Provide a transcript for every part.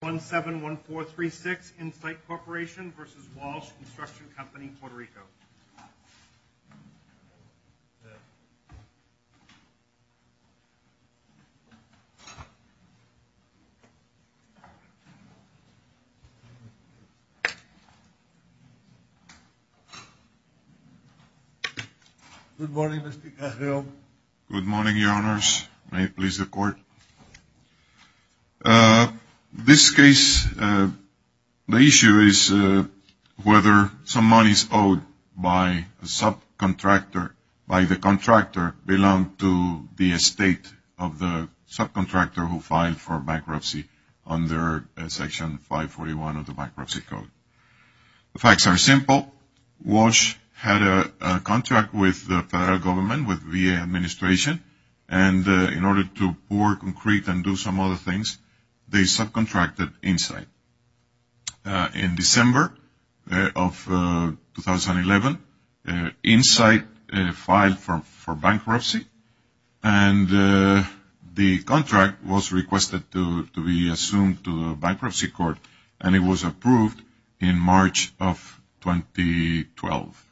Good morning, Mr. Carrillo. Good morning, Your Honors. May it please the Court. This case, the issue is whether some monies owed by a subcontractor, by the contractor, belong to the estate of the subcontractor who filed for bankruptcy under Section 541 of the Bankruptcy Code. The facts are simple. Walsh had a contract with the Federal Government, with the VA Administration, and in order to pour concrete and do some other things, they subcontracted Insite. In December of 2011, Insite filed for bankruptcy and the contract was requested to be assumed to the Bankruptcy Court and it was approved in March of 2012.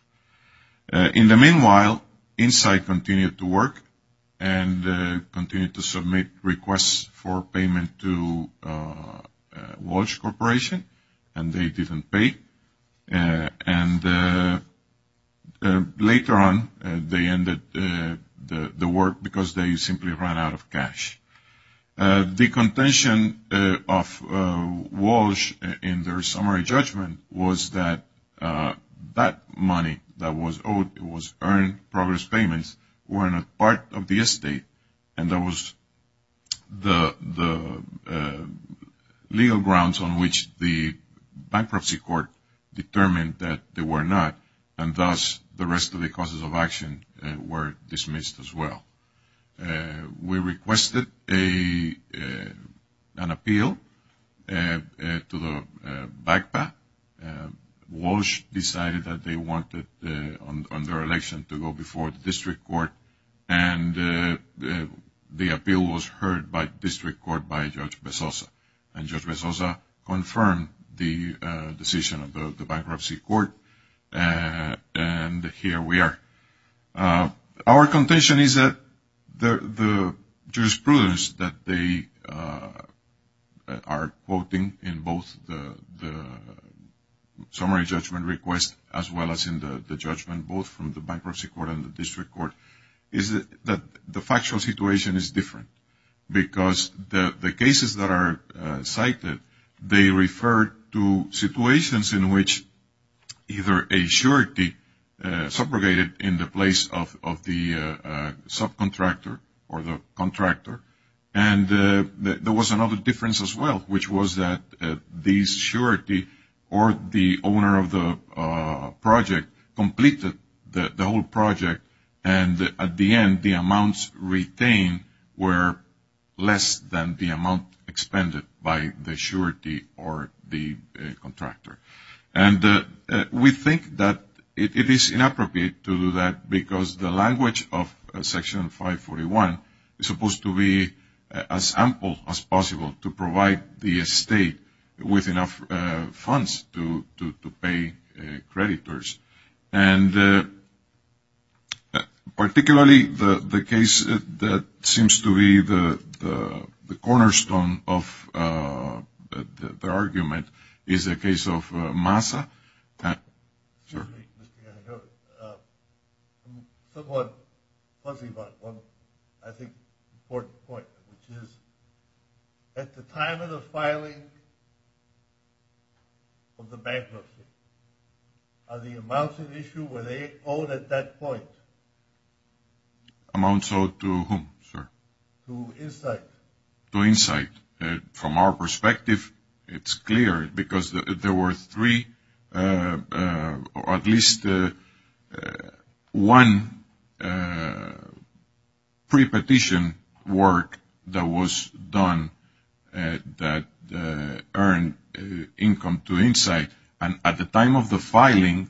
In the meanwhile, Insite continued to work and continued to submit requests for payment to Walsh Corporation and they didn't pay. And later on, they ended the work because they simply ran out of cash. The contention of Walsh in their summary judgment was that that money that was owed, it was earned progress payments, were not part of the estate and that was the legal grounds on which the Bankruptcy Court determined that they were not and thus the rest of the causes of action were dismissed as well. We requested an appeal to the BACPA. Walsh decided that they wanted, on their election, to go before the District Court and the appeal was heard by the District Court by Judge Bezosa and Judge Bezosa confirmed the decision of the Bankruptcy Court and here we are. Our contention is that the jurisprudence that they are quoting in both the summary judgment request as well as in the judgment both from the Bankruptcy Court and the District Court is that the factual situation is different because the cases that are cited, they refer to situations in which either a surety subrogated in the place of the subcontractor or the contractor and there was another difference as well, which was that the surety or the owner of the project completed the whole project and at the end, the amounts retained were less than the amount expended by the surety or the contractor and we think that it is inappropriate to do that because the language of Section 541 is supposed to be as ample as possible to provide the estate with enough funds to pay creditors. And particularly the case that seems to be the cornerstone of the argument is the case of Massa. At the time of the filing of the bankruptcy, are the amounts in issue were they owed at that point? Amounts owed to whom, sir? To Insight. From our perspective, it's clear because there were three or at least one pre-petition work that was done that earned income to Insight. And at the time of the filing,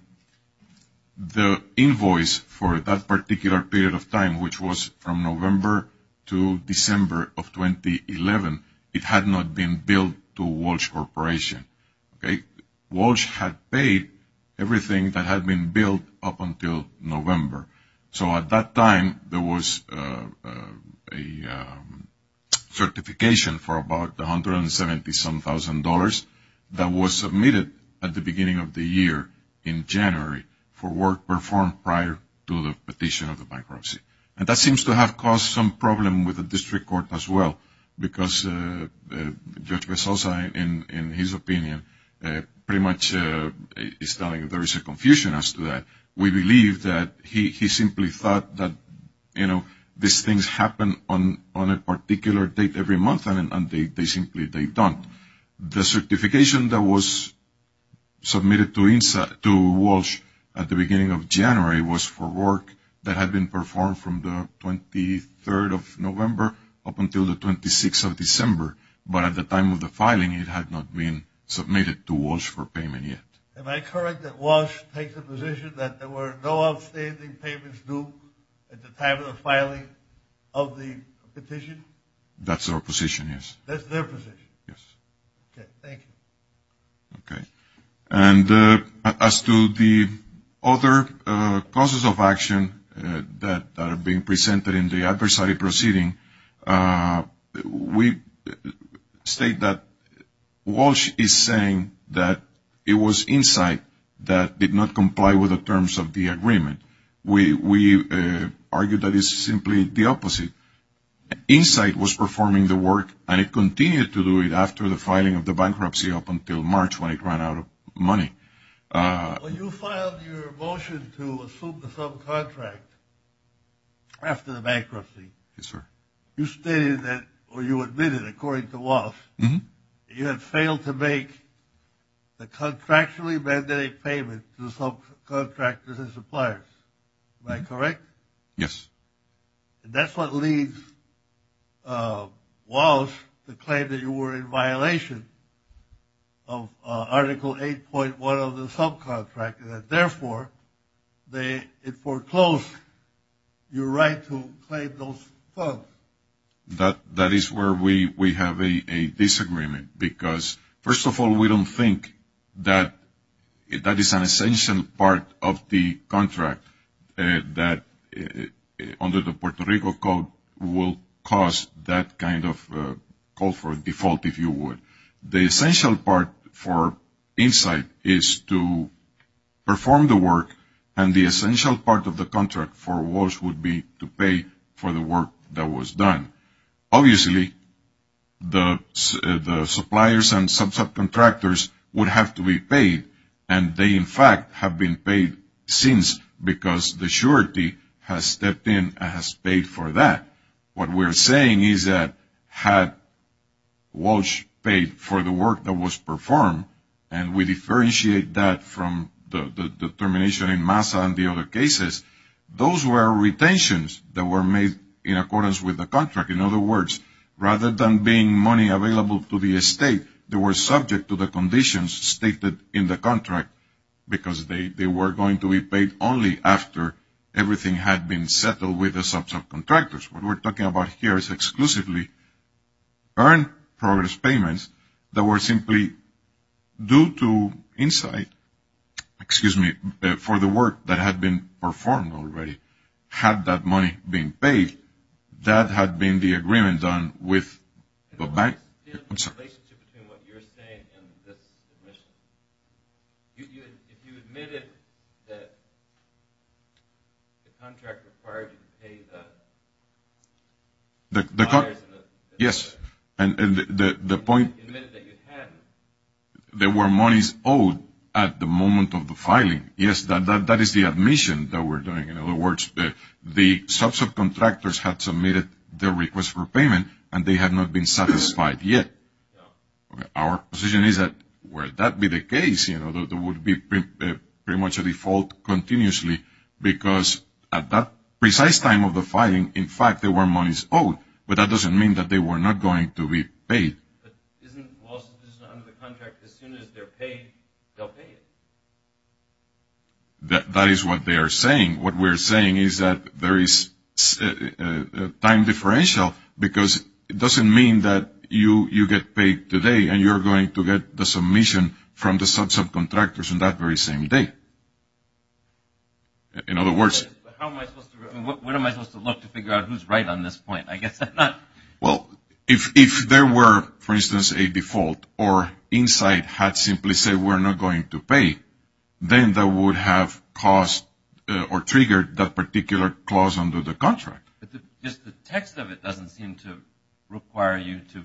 the invoice for that particular period of time, which was from November to December of 2011, it had not been billed to Walsh Corporation. Walsh had paid everything that had been billed up until November. So at that time, there was a certification for about $170,000 that was submitted at the beginning of the year in January for work performed prior to the petition of the bankruptcy. And that seems to have caused some problem with the district court as well because Judge Vesalza, in his opinion, pretty much is telling there is a confusion as to that. We believe that he simply thought that, you know, these things happen on a particular date every month and they simply don't. The certification that was submitted to Walsh at the beginning of January was for work that had been performed from the 23rd of November up until the 26th of December. But at the time of the filing, it had not been submitted to Walsh for payment yet. Am I correct that Walsh takes a position that there were no outstanding payments due at the time of the filing of the petition? That's their position, yes. That's their position. Yes. Okay, thank you. Okay. And as to the other causes of action that are being presented in the adversary proceeding, we state that Walsh is saying that it was Insight that did not comply with the terms of the agreement. We argue that it's simply the opposite. Insight was performing the work and it continued to do it after the filing of the bankruptcy up until March when it ran out of money. When you filed your motion to assume the subcontract after the bankruptcy, you stated or you admitted, according to Walsh, that you had failed to make the contractually mandated payment to subcontractors and suppliers. Am I correct? Yes. And that's what leads Walsh to claim that you were in violation of Article 8.1 of the subcontract, and that therefore it foreclosed your right to claim those funds. That is where we have a disagreement because, first of all, we don't think that that is an essential part of the contract that under the Puerto Rico Code will cause that kind of call for default, if you would. The essential part for Insight is to perform the work, and the essential part of the contract for Walsh would be to pay for the work that was done. Obviously, the suppliers and subcontractors would have to be paid. And they, in fact, have been paid since because the surety has stepped in and has paid for that. What we're saying is that had Walsh paid for the work that was performed, and we differentiate that from the determination in MASA and the other cases, those were retentions that were made in accordance with the contract. In other words, rather than being money available to the estate, they were subject to the conditions stated in the contract because they were going to be paid only after everything had been settled with the subcontractors. What we're talking about here is exclusively earned progress payments that were simply due to Insight, excuse me, for the work that had been performed already. Had that money been paid, that had been the agreement done with the bank. I'm sorry. The relationship between what you're saying and this admission. If you admitted that the contract required you to pay the buyers and the suppliers. Yes, and the point. You admitted that you hadn't. There were monies owed at the moment of the filing. Yes, that is the admission that we're doing. In other words, the subcontractors had submitted their request for payment, and they had not been satisfied yet. Our position is that were that be the case, it would be pretty much a default continuously because at that precise time of the filing, in fact, there were monies owed, but that doesn't mean that they were not going to be paid. Isn't the lawsuit under the contract as soon as they're paid, they'll pay it? That is what they are saying. What we're saying is that there is time differential because it doesn't mean that you get paid today and you're going to get the submission from the subcontractors on that very same day. In other words. When am I supposed to look to figure out who's right on this point? Well, if there were, for instance, a default or Insight had simply said we're not going to pay, then that would have caused or triggered that particular clause under the contract. The text of it doesn't seem to require you to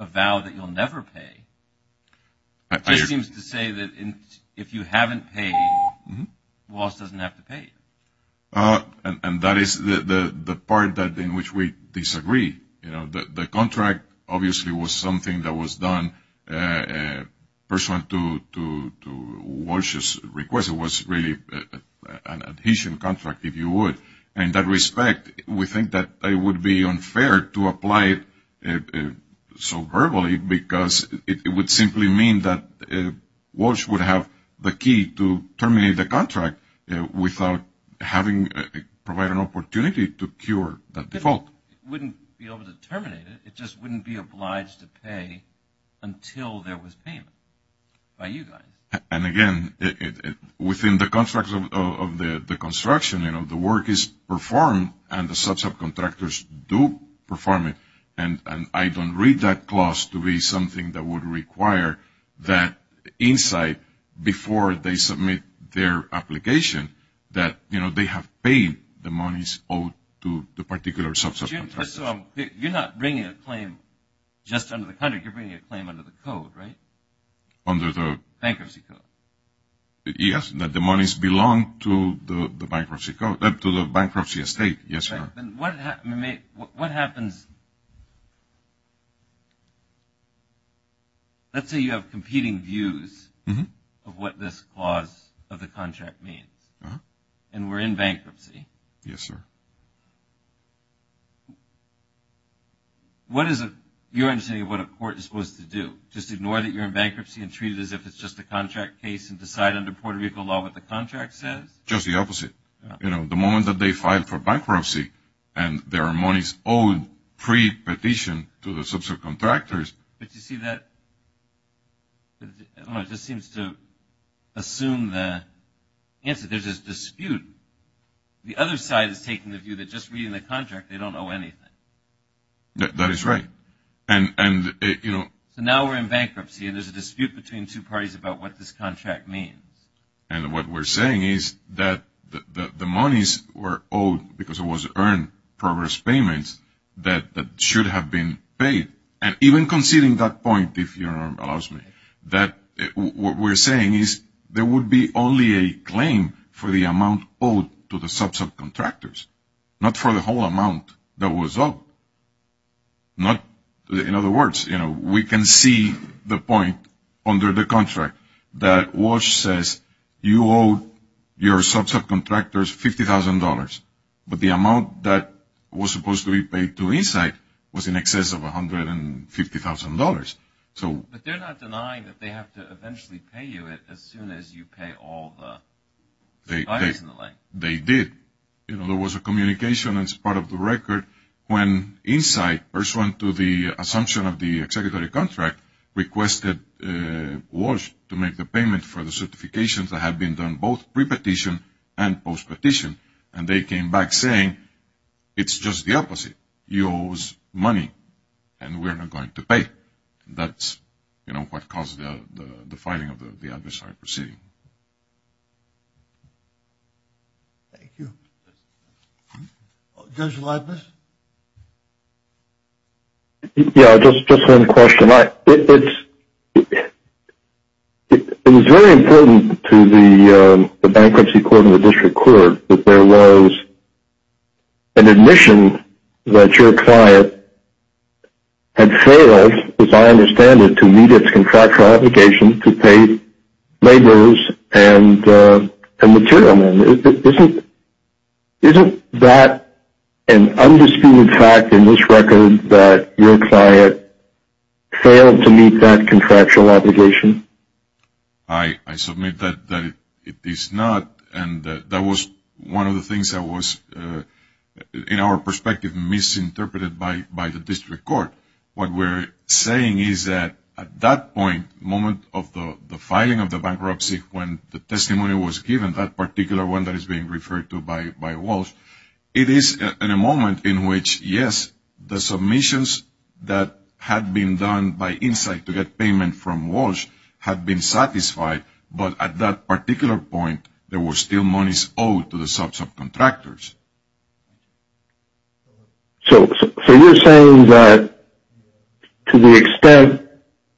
avow that you'll never pay. It just seems to say that if you haven't paid, Walz doesn't have to pay. And that is the part in which we disagree. The contract obviously was something that was done pursuant to Walz's request. It was really an adhesion contract, if you would. And in that respect, we think that it would be unfair to apply it so verbally because it would simply mean that Walz would have the key to terminate the contract without having provided an opportunity to cure that default. It wouldn't be able to terminate it. It just wouldn't be obliged to pay until there was payment by you guys. And, again, within the contract of the construction, you know, the work is performed and the subcontractors do perform it. And I don't read that clause to be something that would require that insight before they submit their application that, you know, they have paid the monies owed to the particular subcontractor. So you're not bringing a claim just under the contract. You're bringing a claim under the code, right? Under the? Bankruptcy code. Yes, that the monies belong to the bankruptcy estate. Yes, sir. What happens? Let's say you have competing views of what this clause of the contract means. And we're in bankruptcy. Yes, sir. What is your understanding of what a court is supposed to do? Just ignore that you're in bankruptcy and treat it as if it's just a contract case and decide under Puerto Rico law what the contract says? Just the opposite. You know, the moment that they file for bankruptcy and their monies owed pre-petition to the subcontractors. But you see that, I don't know, it just seems to assume the answer. There's this dispute. The other side is taking the view that just reading the contract they don't owe anything. That is right. And, you know. So now we're in bankruptcy and there's a dispute between two parties about what this contract means. And what we're saying is that the monies were owed because it was earned progress payments that should have been paid. And even conceding that point, if you'll allow me, that what we're saying is there would be only a claim for the amount owed to the subcontractors. Not for the whole amount that was owed. In other words, we can see the point under the contract that Walsh says you owe your subcontractors $50,000. But the amount that was supposed to be paid to Insight was in excess of $150,000. But they're not denying that they have to eventually pay you it as soon as you pay all the buyers in the lane. They did. You know, there was a communication as part of the record when Insight, pursuant to the assumption of the executive contract, requested Walsh to make the payment for the certifications that had been done both pre-petition and post-petition. And they came back saying it's just the opposite. You owe us money and we're not going to pay. That's, you know, what caused the filing of the adversary proceeding. Thank you. Judge Leibniz? Yeah, just one question. It was very important to the bankruptcy court and the district court that there was an admission that your client had failed, as I understand it, to meet its contractual obligation to pay laborers and material. Isn't that an undisputed fact in this record that your client failed to meet that contractual obligation? I submit that it is not. And that was one of the things that was, in our perspective, misinterpreted by the district court. What we're saying is that at that point, the moment of the filing of the bankruptcy, when the testimony was given, that particular one that is being referred to by Walsh, it is in a moment in which, yes, the submissions that had been done by Insight to get payment from Walsh had been satisfied. But at that particular point, there were still monies owed to the subcontractors. So you're saying that to the extent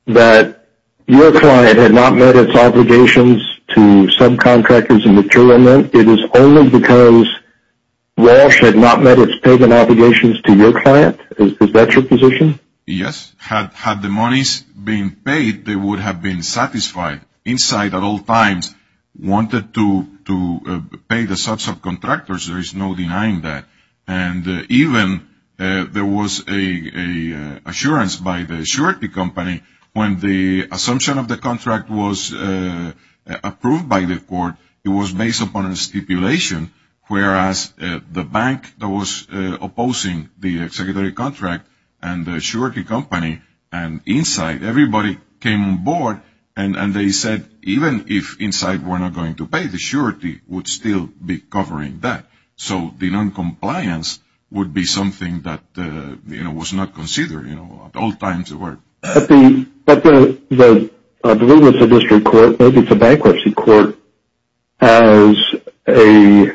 that your client had not met its obligations to subcontractors and material, it is only because Walsh had not met its payment obligations to your client? Is that your position? Yes. Had the monies been paid, they would have been satisfied. Insight, at all times, wanted to pay the subcontractors. There is no denying that. And even there was an assurance by the surety company when the assumption of the contract was approved by the court. It was based upon a stipulation, whereas the bank that was opposing the executive contract and the surety company and Insight, everybody came on board and they said even if Insight were not going to pay, the surety would still be covering that. So the noncompliance would be something that was not considered at all times. At the Deliverance of District Court, maybe it's a bankruptcy court, as a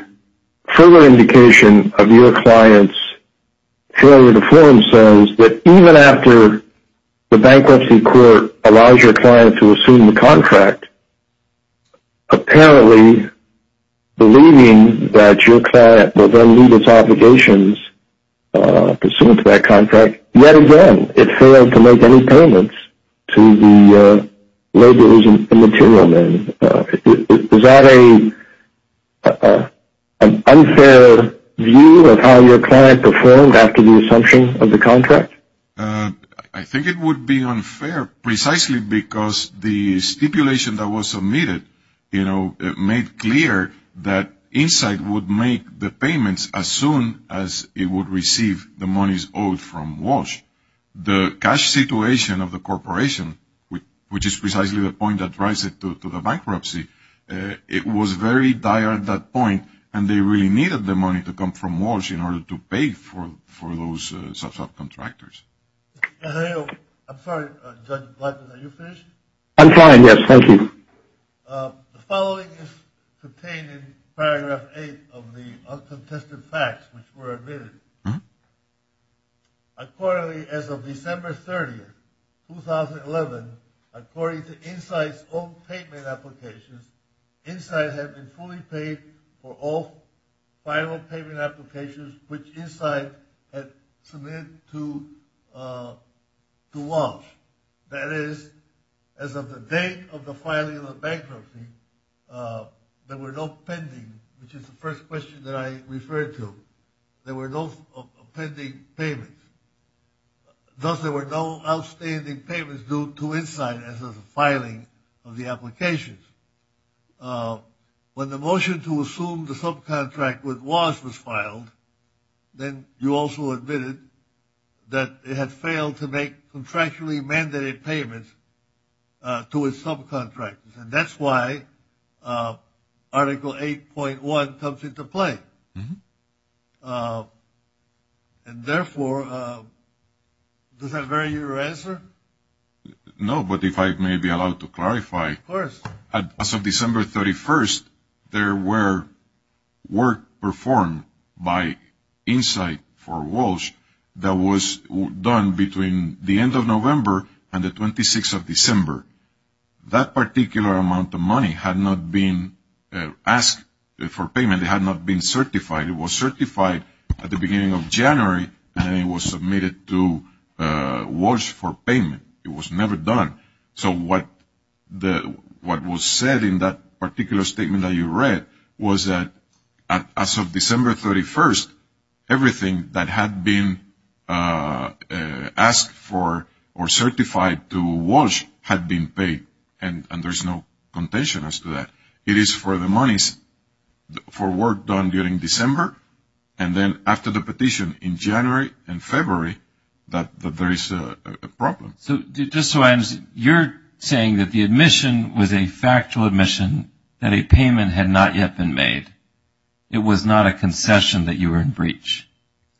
further indication of your client's failure to fulfill themselves, that even after the bankruptcy court allows your client to assume the contract, apparently believing that your client will then meet its obligations to assume to that contract, yet again it failed to make any payments to the laborers and material men. Is that an unfair view of how your client performed after the assumption of the contract? I think it would be unfair precisely because the stipulation that was submitted, you know, made clear that Insight would make the payments as soon as it would receive the money owed from Walsh. The cash situation of the corporation, which is precisely the point that drives it to the bankruptcy, it was very dire at that point and they really needed the money to come from Walsh in order to pay for those subcontractors. I'm sorry, Judge Blackman, are you finished? I'm fine, yes, thank you. The following is contained in paragraph eight of the uncontested facts which were admitted. Accordingly, as of December 30, 2011, according to Insight's own payment applications, Insight had been fully paid for all final payment applications which Insight had submitted to Walsh. That is, as of the date of the filing of the bankruptcy, there were no pending, which is the first question that I referred to, there were no pending payments. Thus, there were no outstanding payments due to Insight as of the filing of the applications. When the motion to assume the subcontract with Walsh was filed, then you also admitted that it had failed to make contractually mandated payments to its subcontractors. And that's why Article 8.1 comes into play. And therefore, does that vary your answer? No, but if I may be allowed to clarify, as of December 31, there were work performed by Insight for Walsh that was done between the end of November and the 26th of December. That particular amount of money had not been asked for payment. It had not been certified. It was certified at the beginning of January, and then it was submitted to Walsh for payment. It was never done. So what was said in that particular statement that you read was that as of December 31, everything that had been asked for or certified to Walsh had been paid, and there's no contention as to that. It is for the monies for work done during December, and then after the petition in January and February that there is a problem. So just so I understand, you're saying that the admission was a factual admission that a payment had not yet been made. It was not a concession that you were in breach.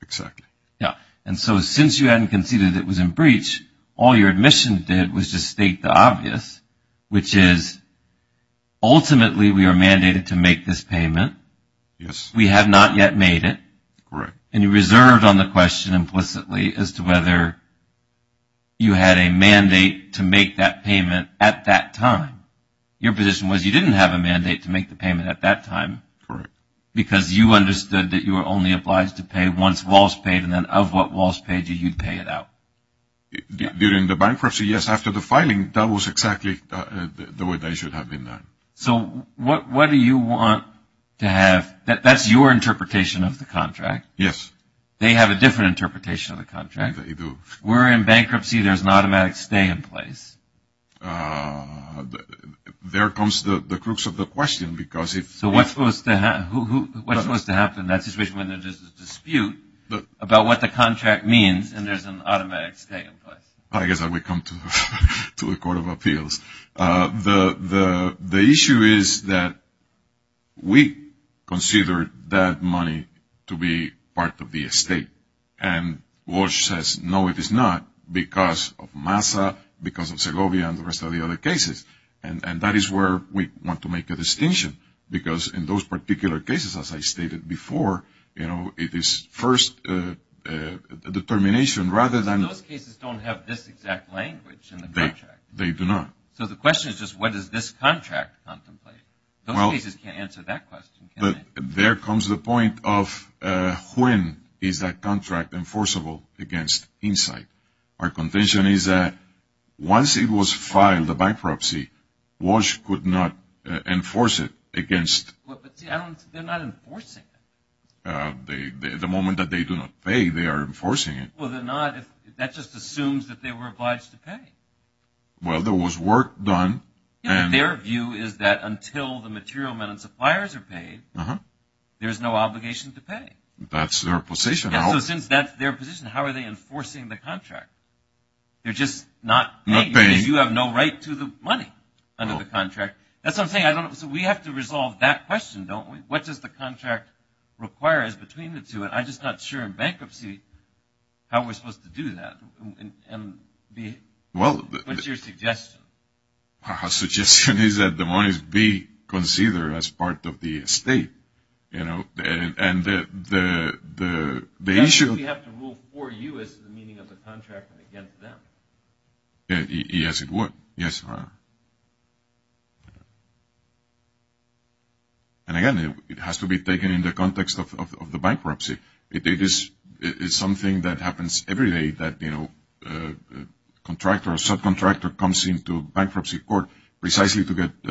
Exactly. Yeah. And so since you hadn't conceded it was in breach, all your admission did was just state the obvious, which is ultimately we are mandated to make this payment. Yes. We have not yet made it. Correct. And you reserved on the question implicitly as to whether you had a mandate to make that payment at that time. Your position was you didn't have a mandate to make the payment at that time. Correct. Because you understood that you were only obliged to pay once Walsh paid, and then of what Walsh paid you, you'd pay it out. During the bankruptcy, yes. After the filing, that was exactly the way they should have been done. So what do you want to have? That's your interpretation of the contract. Yes. They have a different interpretation of the contract. They do. We're in bankruptcy. There's an automatic stay in place. There comes the crux of the question. So what's supposed to happen in that situation when there's a dispute about what the contract means and there's an automatic stay in place? I guess I would come to the Court of Appeals. The issue is that we consider that money to be part of the estate, and Walsh says, no, it is not, because of MASA, because of Segovia, and the rest of the other cases. And that is where we want to make a distinction, because in those particular cases, as I stated before, it is first determination rather than – But those cases don't have this exact language in the contract. They do not. So the question is just what does this contract contemplate? Those cases can't answer that question, can they? There comes the point of when is that contract enforceable against Insight. Our contention is that once it was filed, a bankruptcy, Walsh could not enforce it against – But they're not enforcing it. The moment that they do not pay, they are enforcing it. Well, they're not. That just assumes that they were obliged to pay. Well, there was work done. Their view is that until the material men and suppliers are paid, there's no obligation to pay. That's their position. So since that's their position, how are they enforcing the contract? They're just not – Not paying. You have no right to the money under the contract. That's what I'm saying. So we have to resolve that question, don't we? What does the contract require between the two? And I'm just not sure in bankruptcy how we're supposed to do that. What's your suggestion? Our suggestion is that the monies be considered as part of the estate. And the issue – That means we have to rule for you as to the meaning of the contract and against them. Yes, it would. Yes, Your Honor. And, again, it has to be taken in the context of the bankruptcy. It's something that happens every day that a contractor or subcontractor comes into bankruptcy court precisely to get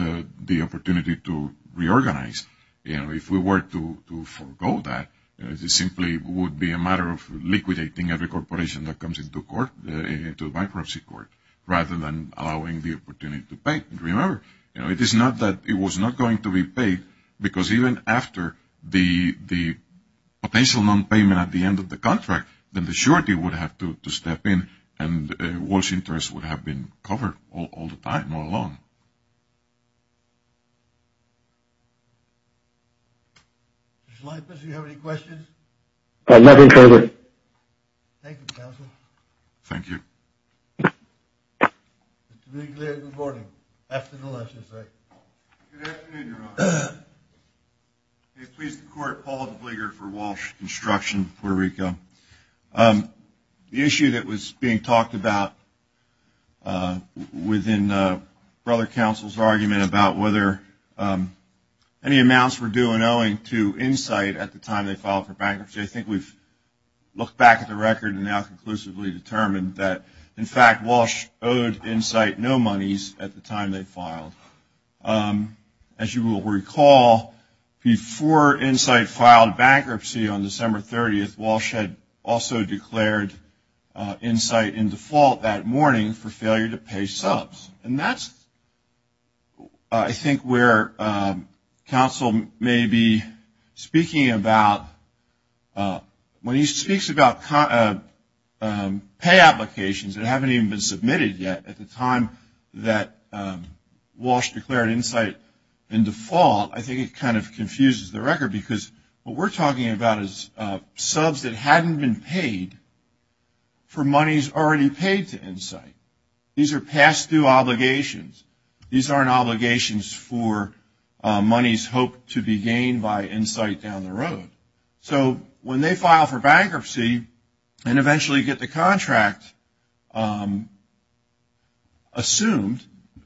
the opportunity to reorganize. If we were to forego that, it simply would be a matter of liquidating every corporation that comes into court, into bankruptcy court, rather than allowing the opportunity to pay. Remember, it is not that it was not going to be paid, because even after the potential non-payment at the end of the contract, then the surety would have to step in, and Walsh interest would have been covered all the time all along. Mr. Leibniz, do you have any questions? Nothing further. Thank you, counsel. Thank you. Mr. Leibniz, good morning. Afternoon, Your Honor. Good afternoon, Your Honor. May it please the Court, Paul Leibniz for Walsh Construction, Puerto Rico. The issue that was being talked about within Brother Counsel's argument about whether any amounts were due and owing to insight at the time they filed for bankruptcy, I think we've looked back at the record and now conclusively determined that, in fact, Walsh owed Insight no monies at the time they filed. As you will recall, before Insight filed bankruptcy on December 30th, Walsh had also declared Insight in default that morning for failure to pay subs. And that's, I think, where counsel may be speaking about, when he speaks about pay applications that haven't even been submitted yet at the time that Walsh declared Insight in default, I think it kind of confuses the record because what we're talking about is subs that hadn't been paid These are past due obligations. These aren't obligations for monies hoped to be gained by Insight down the road. So when they file for bankruptcy and eventually get the contract assumed,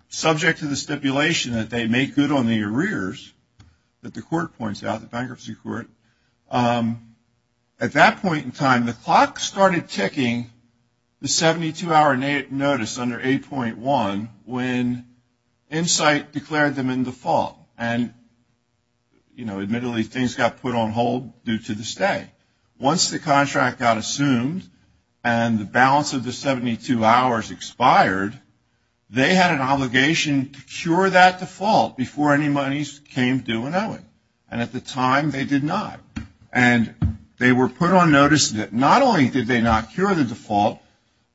subject to the stipulation that they make good on the arrears that the court points out, the bankruptcy court, at that point in time, the clock started ticking, the 72-hour notice under 8.1, when Insight declared them in default. And, you know, admittedly, things got put on hold due to the stay. Once the contract got assumed and the balance of the 72 hours expired, they had an obligation to cure that default before any monies came due and owing. And at the time, they did not. And they were put on notice that not only did they not cure the default,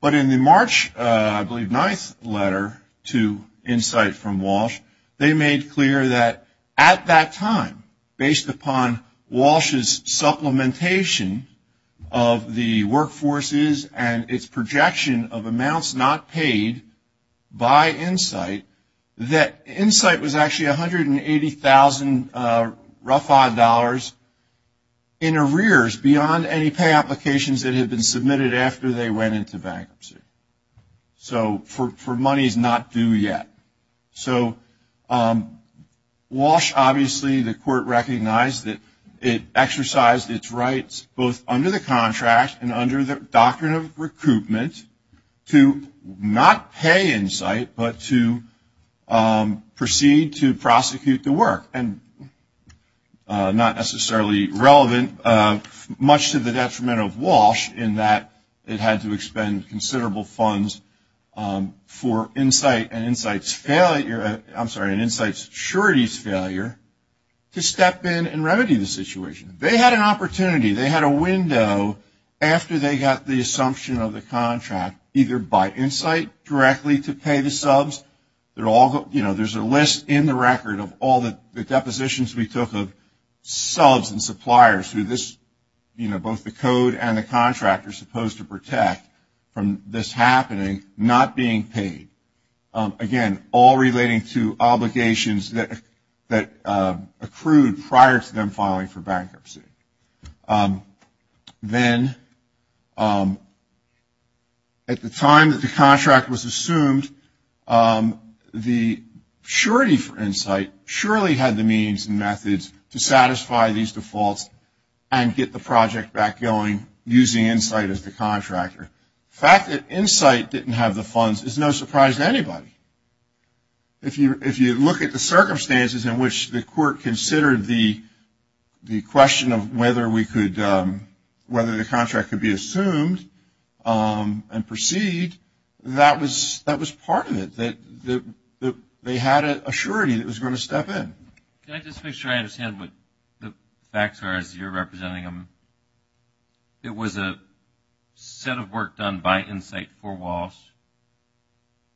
but in the March, I believe, ninth letter to Insight from Walsh, they made clear that at that time, based upon Walsh's supplementation of the workforces and its projection of amounts not paid by Insight, that Insight was actually $180,000 rough-odd dollars in arrears beyond any pay applications that had been submitted after they went into bankruptcy. So for monies not due yet. So Walsh, obviously, the court recognized that it exercised its rights, both under the contract and under the doctrine of recoupment, to not pay Insight, but to proceed to prosecute the work. And not necessarily relevant, much to the detriment of Walsh, in that it had to expend considerable funds for Insight and Insight's failure, I'm sorry, and Insight's surety's failure to step in and remedy the situation. They had an opportunity. They had a window after they got the assumption of the contract, either by Insight directly to pay the subs. You know, there's a list in the record of all the depositions we took of subs and suppliers who this, you know, both the code and the contract are supposed to protect from this happening, not being paid. Again, all relating to obligations that accrued prior to them filing for bankruptcy. Then at the time that the contract was assumed, the surety for Insight surely had the means and methods to satisfy these defaults and get the project back going using Insight as the contractor. The fact that Insight didn't have the funds is no surprise to anybody. If you look at the circumstances in which the court considered the question of whether we could, whether the contract could be assumed and proceed, that was part of it, that they had a surety that was going to step in. Can I just make sure I understand what the facts are as you're representing them? It was a set of work done by Insight for Walsh,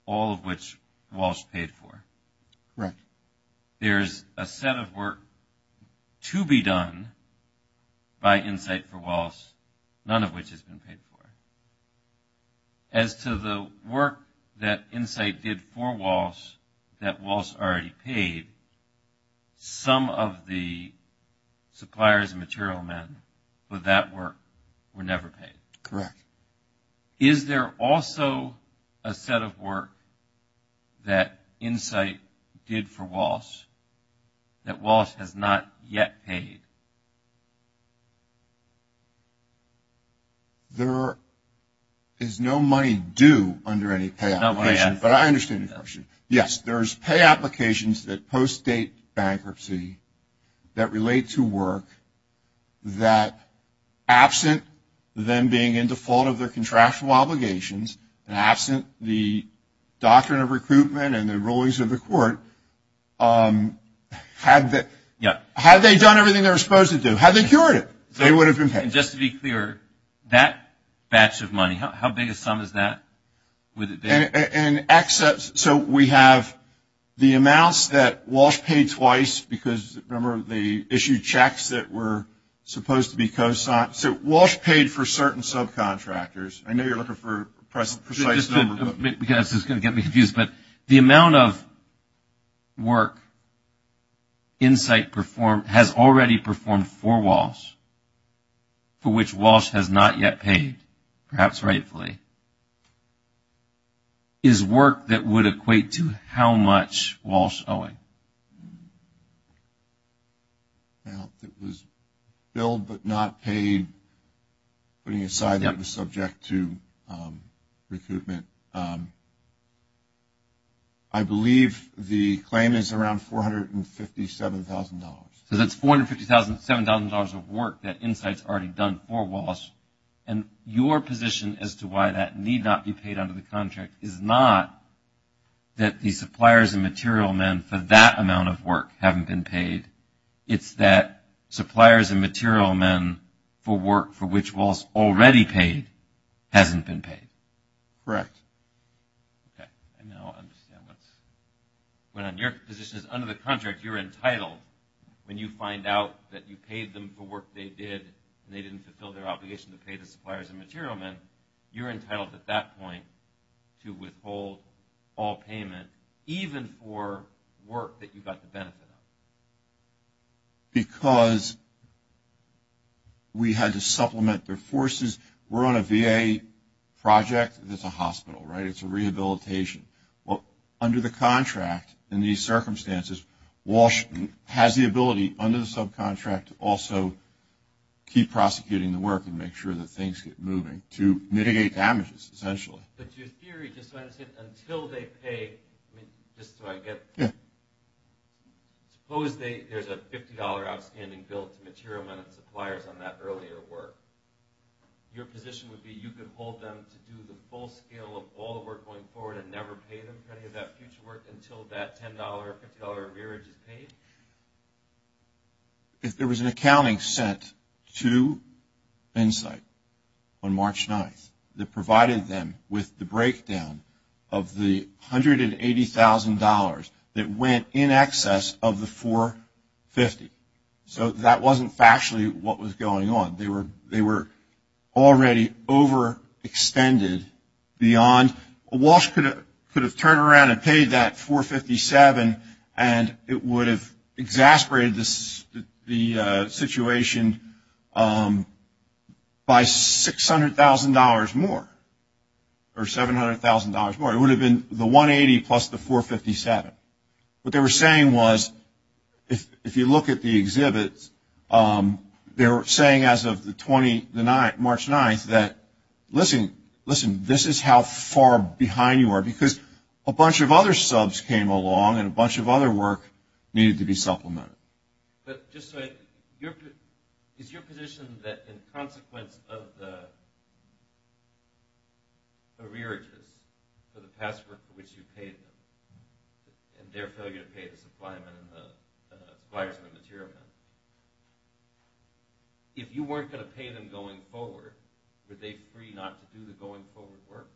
all of which Walsh paid for. Right. There's a set of work to be done by Insight for Walsh, none of which has been paid for. As to the work that Insight did for Walsh that Walsh already paid, some of the suppliers and material men for that work were never paid. Correct. Is there also a set of work that Insight did for Walsh that Walsh has not yet paid? There is no money due under any pay application. But I understand your question. Yes, there's pay applications that post-date bankruptcy that relate to work that, absent them being in default of their contractual obligations, and absent the doctrine of recruitment and the rulings of the court, had they done everything they were supposed to do, had they cured it, they would have been paid. And just to be clear, that batch of money, how big a sum is that? So we have the amounts that Walsh paid twice because, remember, they issued checks that were supposed to be cosigned. So Walsh paid for certain subcontractors. I know you're looking for a precise number. This is going to get me confused. But the amount of work Insight has already performed for Walsh, for which Walsh has not yet paid, perhaps rightfully, is work that would equate to how much Walsh owing. Well, it was billed but not paid, putting aside that it was subject to recruitment. I believe the claim is around $457,000. So that's $457,000 of work that Insight's already done for Walsh. And your position as to why that need not be paid under the contract is not that the suppliers and material men for that amount of work haven't been paid. It's that suppliers and material men for work for which Walsh already paid hasn't been paid. Correct. Okay. I now understand what's going on. Your position is under the contract you're entitled when you find out that you paid them for work they did and they didn't fulfill their obligation to pay the suppliers and material men, you're entitled at that point to withhold all payment even for work that you got the benefit of. Because we had to supplement their forces. We're on a VA project that's a hospital, right? It's a rehabilitation. Well, under the contract in these circumstances, Walsh has the ability under the subcontract to also keep prosecuting the work and make sure that things get moving to mitigate damages essentially. But your theory is that until they pay, I mean, just so I get. Yeah. Suppose there's a $50 outstanding bill to material men and suppliers on that earlier work. Your position would be you could hold them to do the full scale of all the work going forward and never pay them for any of that future work until that $10, $50 arrearage is paid? If there was an accounting sent to Insight on March 9th that provided them with the breakdown of the $180,000 that went in excess of the $450,000. So that wasn't actually what was going on. They were already overextended beyond. Walsh could have turned around and paid that $457,000, and it would have exasperated the situation by $600,000 more or $700,000 more. It would have been the $180,000 plus the $457,000. What they were saying was if you look at the exhibits, they were saying as of March 9th that, listen, listen, this is how far behind you are because a bunch of other subs came along and a bunch of other work needed to be supplemented. But just so I know, is your position that in consequence of the arrearages for the past work for which you paid them and their failure to pay the suppliers and the material men, if you weren't going to pay them going forward, were they free not to do the going forward work?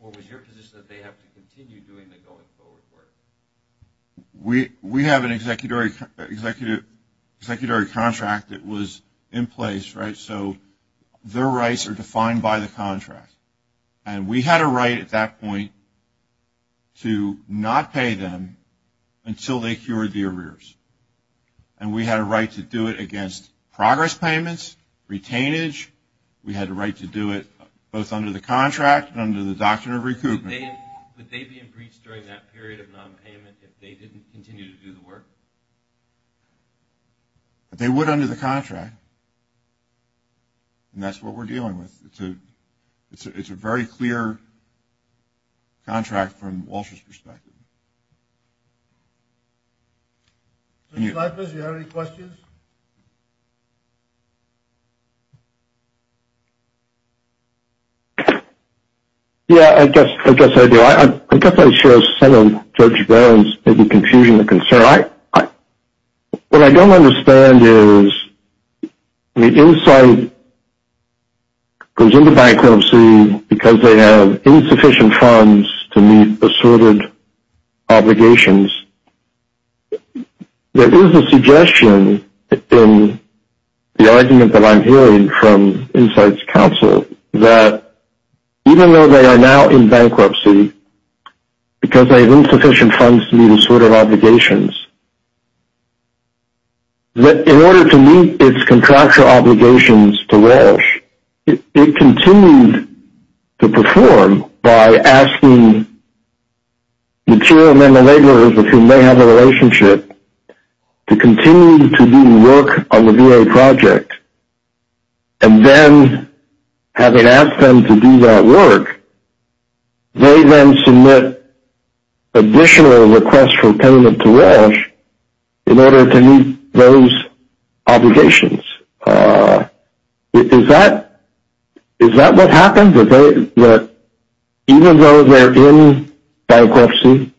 Or was your position that they have to continue doing the going forward work? We have an executory contract that was in place, right? So their rights are defined by the contract. And we had a right at that point to not pay them until they cured the arrears. And we had a right to do it against progress payments, retainage. We had a right to do it both under the contract and under the doctrine of recoupment. Would they be in breach during that period of nonpayment if they didn't continue to do the work? They would under the contract. And that's what we're dealing with. It's a very clear contract from Walsh's perspective. Mr. Snipers, do you have any questions? Yeah, I guess I do. I guess I share some of Judge Brown's confusion and concern. What I don't understand is the Insight goes into bankruptcy because they have insufficient funds to meet assorted obligations. There is a suggestion in the argument that I'm hearing from Insight's counsel that even though they are now in bankruptcy, because they have insufficient funds to meet assorted obligations, that in order to meet its contractual obligations to Walsh, it continued to perform by asking material men and laborers with whom they have a relationship to continue to do work on the VA project. And then having asked them to do that work, they then submit additional requests for payment to Walsh in order to meet those obligations. Is that what happened? Even though they're in bankruptcy,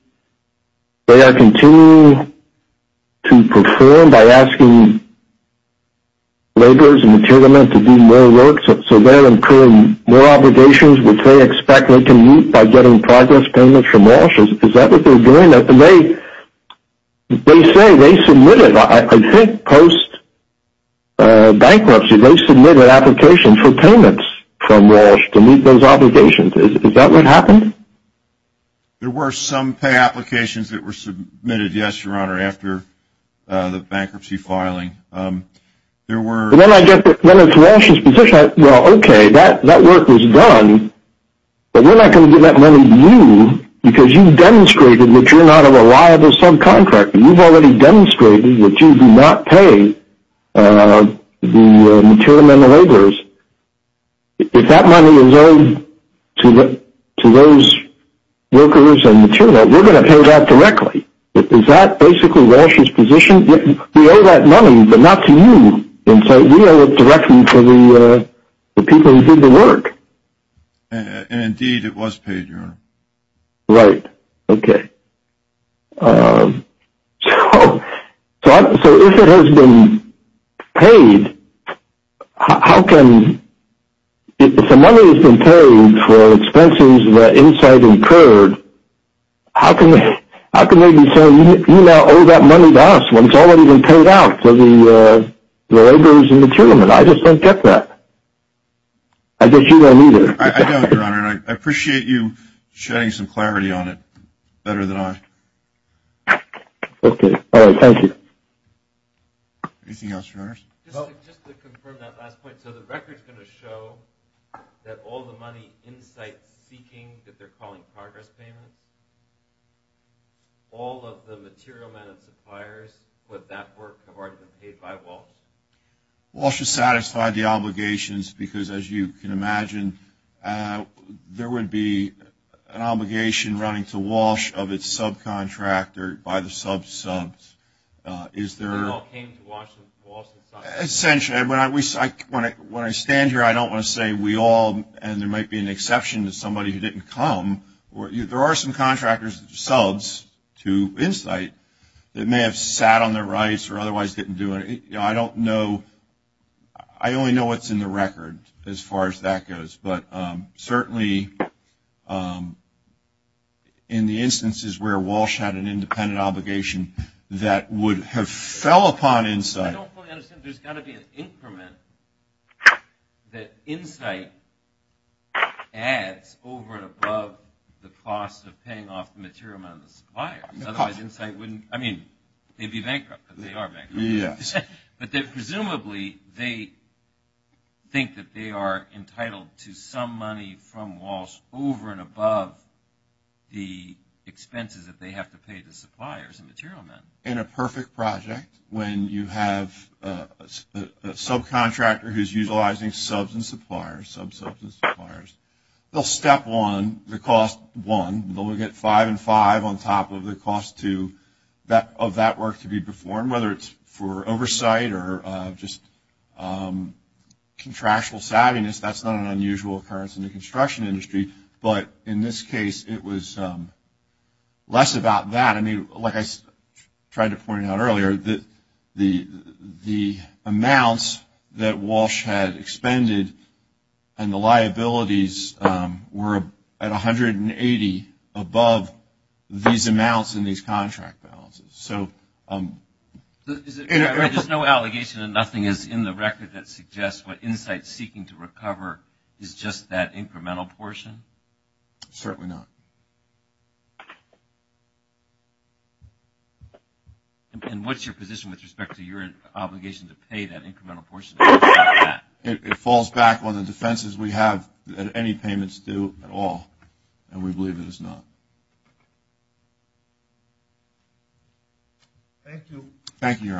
they are continuing to perform by asking laborers and material men to do more work, so they're incurring more obligations which they expect they can meet by getting progress payments from Walsh. Is that what they're doing? They say they submitted, I think post-bankruptcy, they submitted applications for payments from Walsh to meet those obligations. Is that what happened? There were some pay applications that were submitted, yes, Your Honor, after the bankruptcy filing. But then I get to Walsh's position, well, okay, that work was done, but we're not going to give that money to you because you've demonstrated that you're not a reliable subcontractor. You've already demonstrated that you do not pay the material men and laborers. If that money is owed to those workers and material men, we're going to pay that directly. Is that basically Walsh's position? We owe that money, but not to you. We owe it directly to the people who did the work. Indeed, it was paid, Your Honor. Right, okay. So if it has been paid, how can the money has been paid for expenses that inside incurred, how can they be saying you now owe that money to us when it's already been paid out to the laborers and material men? I just don't get that. I guess you don't either. I don't, Your Honor, and I appreciate you shedding some clarity on it better than I. Okay. All right, thank you. Anything else, Your Honors? Just to confirm that last point, so the record's going to show that all the money in-site seeking that they're calling progress payment, all of the material men and suppliers with that work have already been paid by Walsh? Walsh has satisfied the obligations because, as you can imagine, there would be an obligation running to Walsh of its subcontractor by the subs. Is there? It all came to Walsh. Essentially, when I stand here, I don't want to say we all, and there might be an exception to somebody who didn't come. There are some contractors, subs to Insight, that may have sat on their rights or otherwise didn't do it. I don't know. I only know what's in the record as far as that goes, but certainly in the instances where Walsh had an independent obligation that would have fell upon Insight. I don't fully understand. There's got to be an increment that Insight adds over and above the cost of paying off the material men and the suppliers. Otherwise, Insight wouldn't – I mean, they'd be bankrupt because they are bankrupt. But presumably, they think that they are entitled to some money from Walsh over and above the expenses that they have to pay the suppliers and material men. In a perfect project, when you have a subcontractor who is utilizing subs and suppliers, subs, subs, and suppliers, they'll step on the cost one. They'll get five and five on top of the cost two of that work to be performed, whether it's for oversight or just contractual savviness. That's not an unusual occurrence in the construction industry. But in this case, it was less about that. I mean, like I tried to point out earlier, the amounts that Walsh had expended and the liabilities were at 180 above these amounts in these contract balances. There's no allegation and nothing is in the record that suggests what Insight is seeking to recover is just that incremental portion? Certainly not. And what's your position with respect to your obligation to pay that incremental portion? It falls back on the defenses we have that any payments do at all, and we believe it is not. Thank you. Thank you, Your Honors.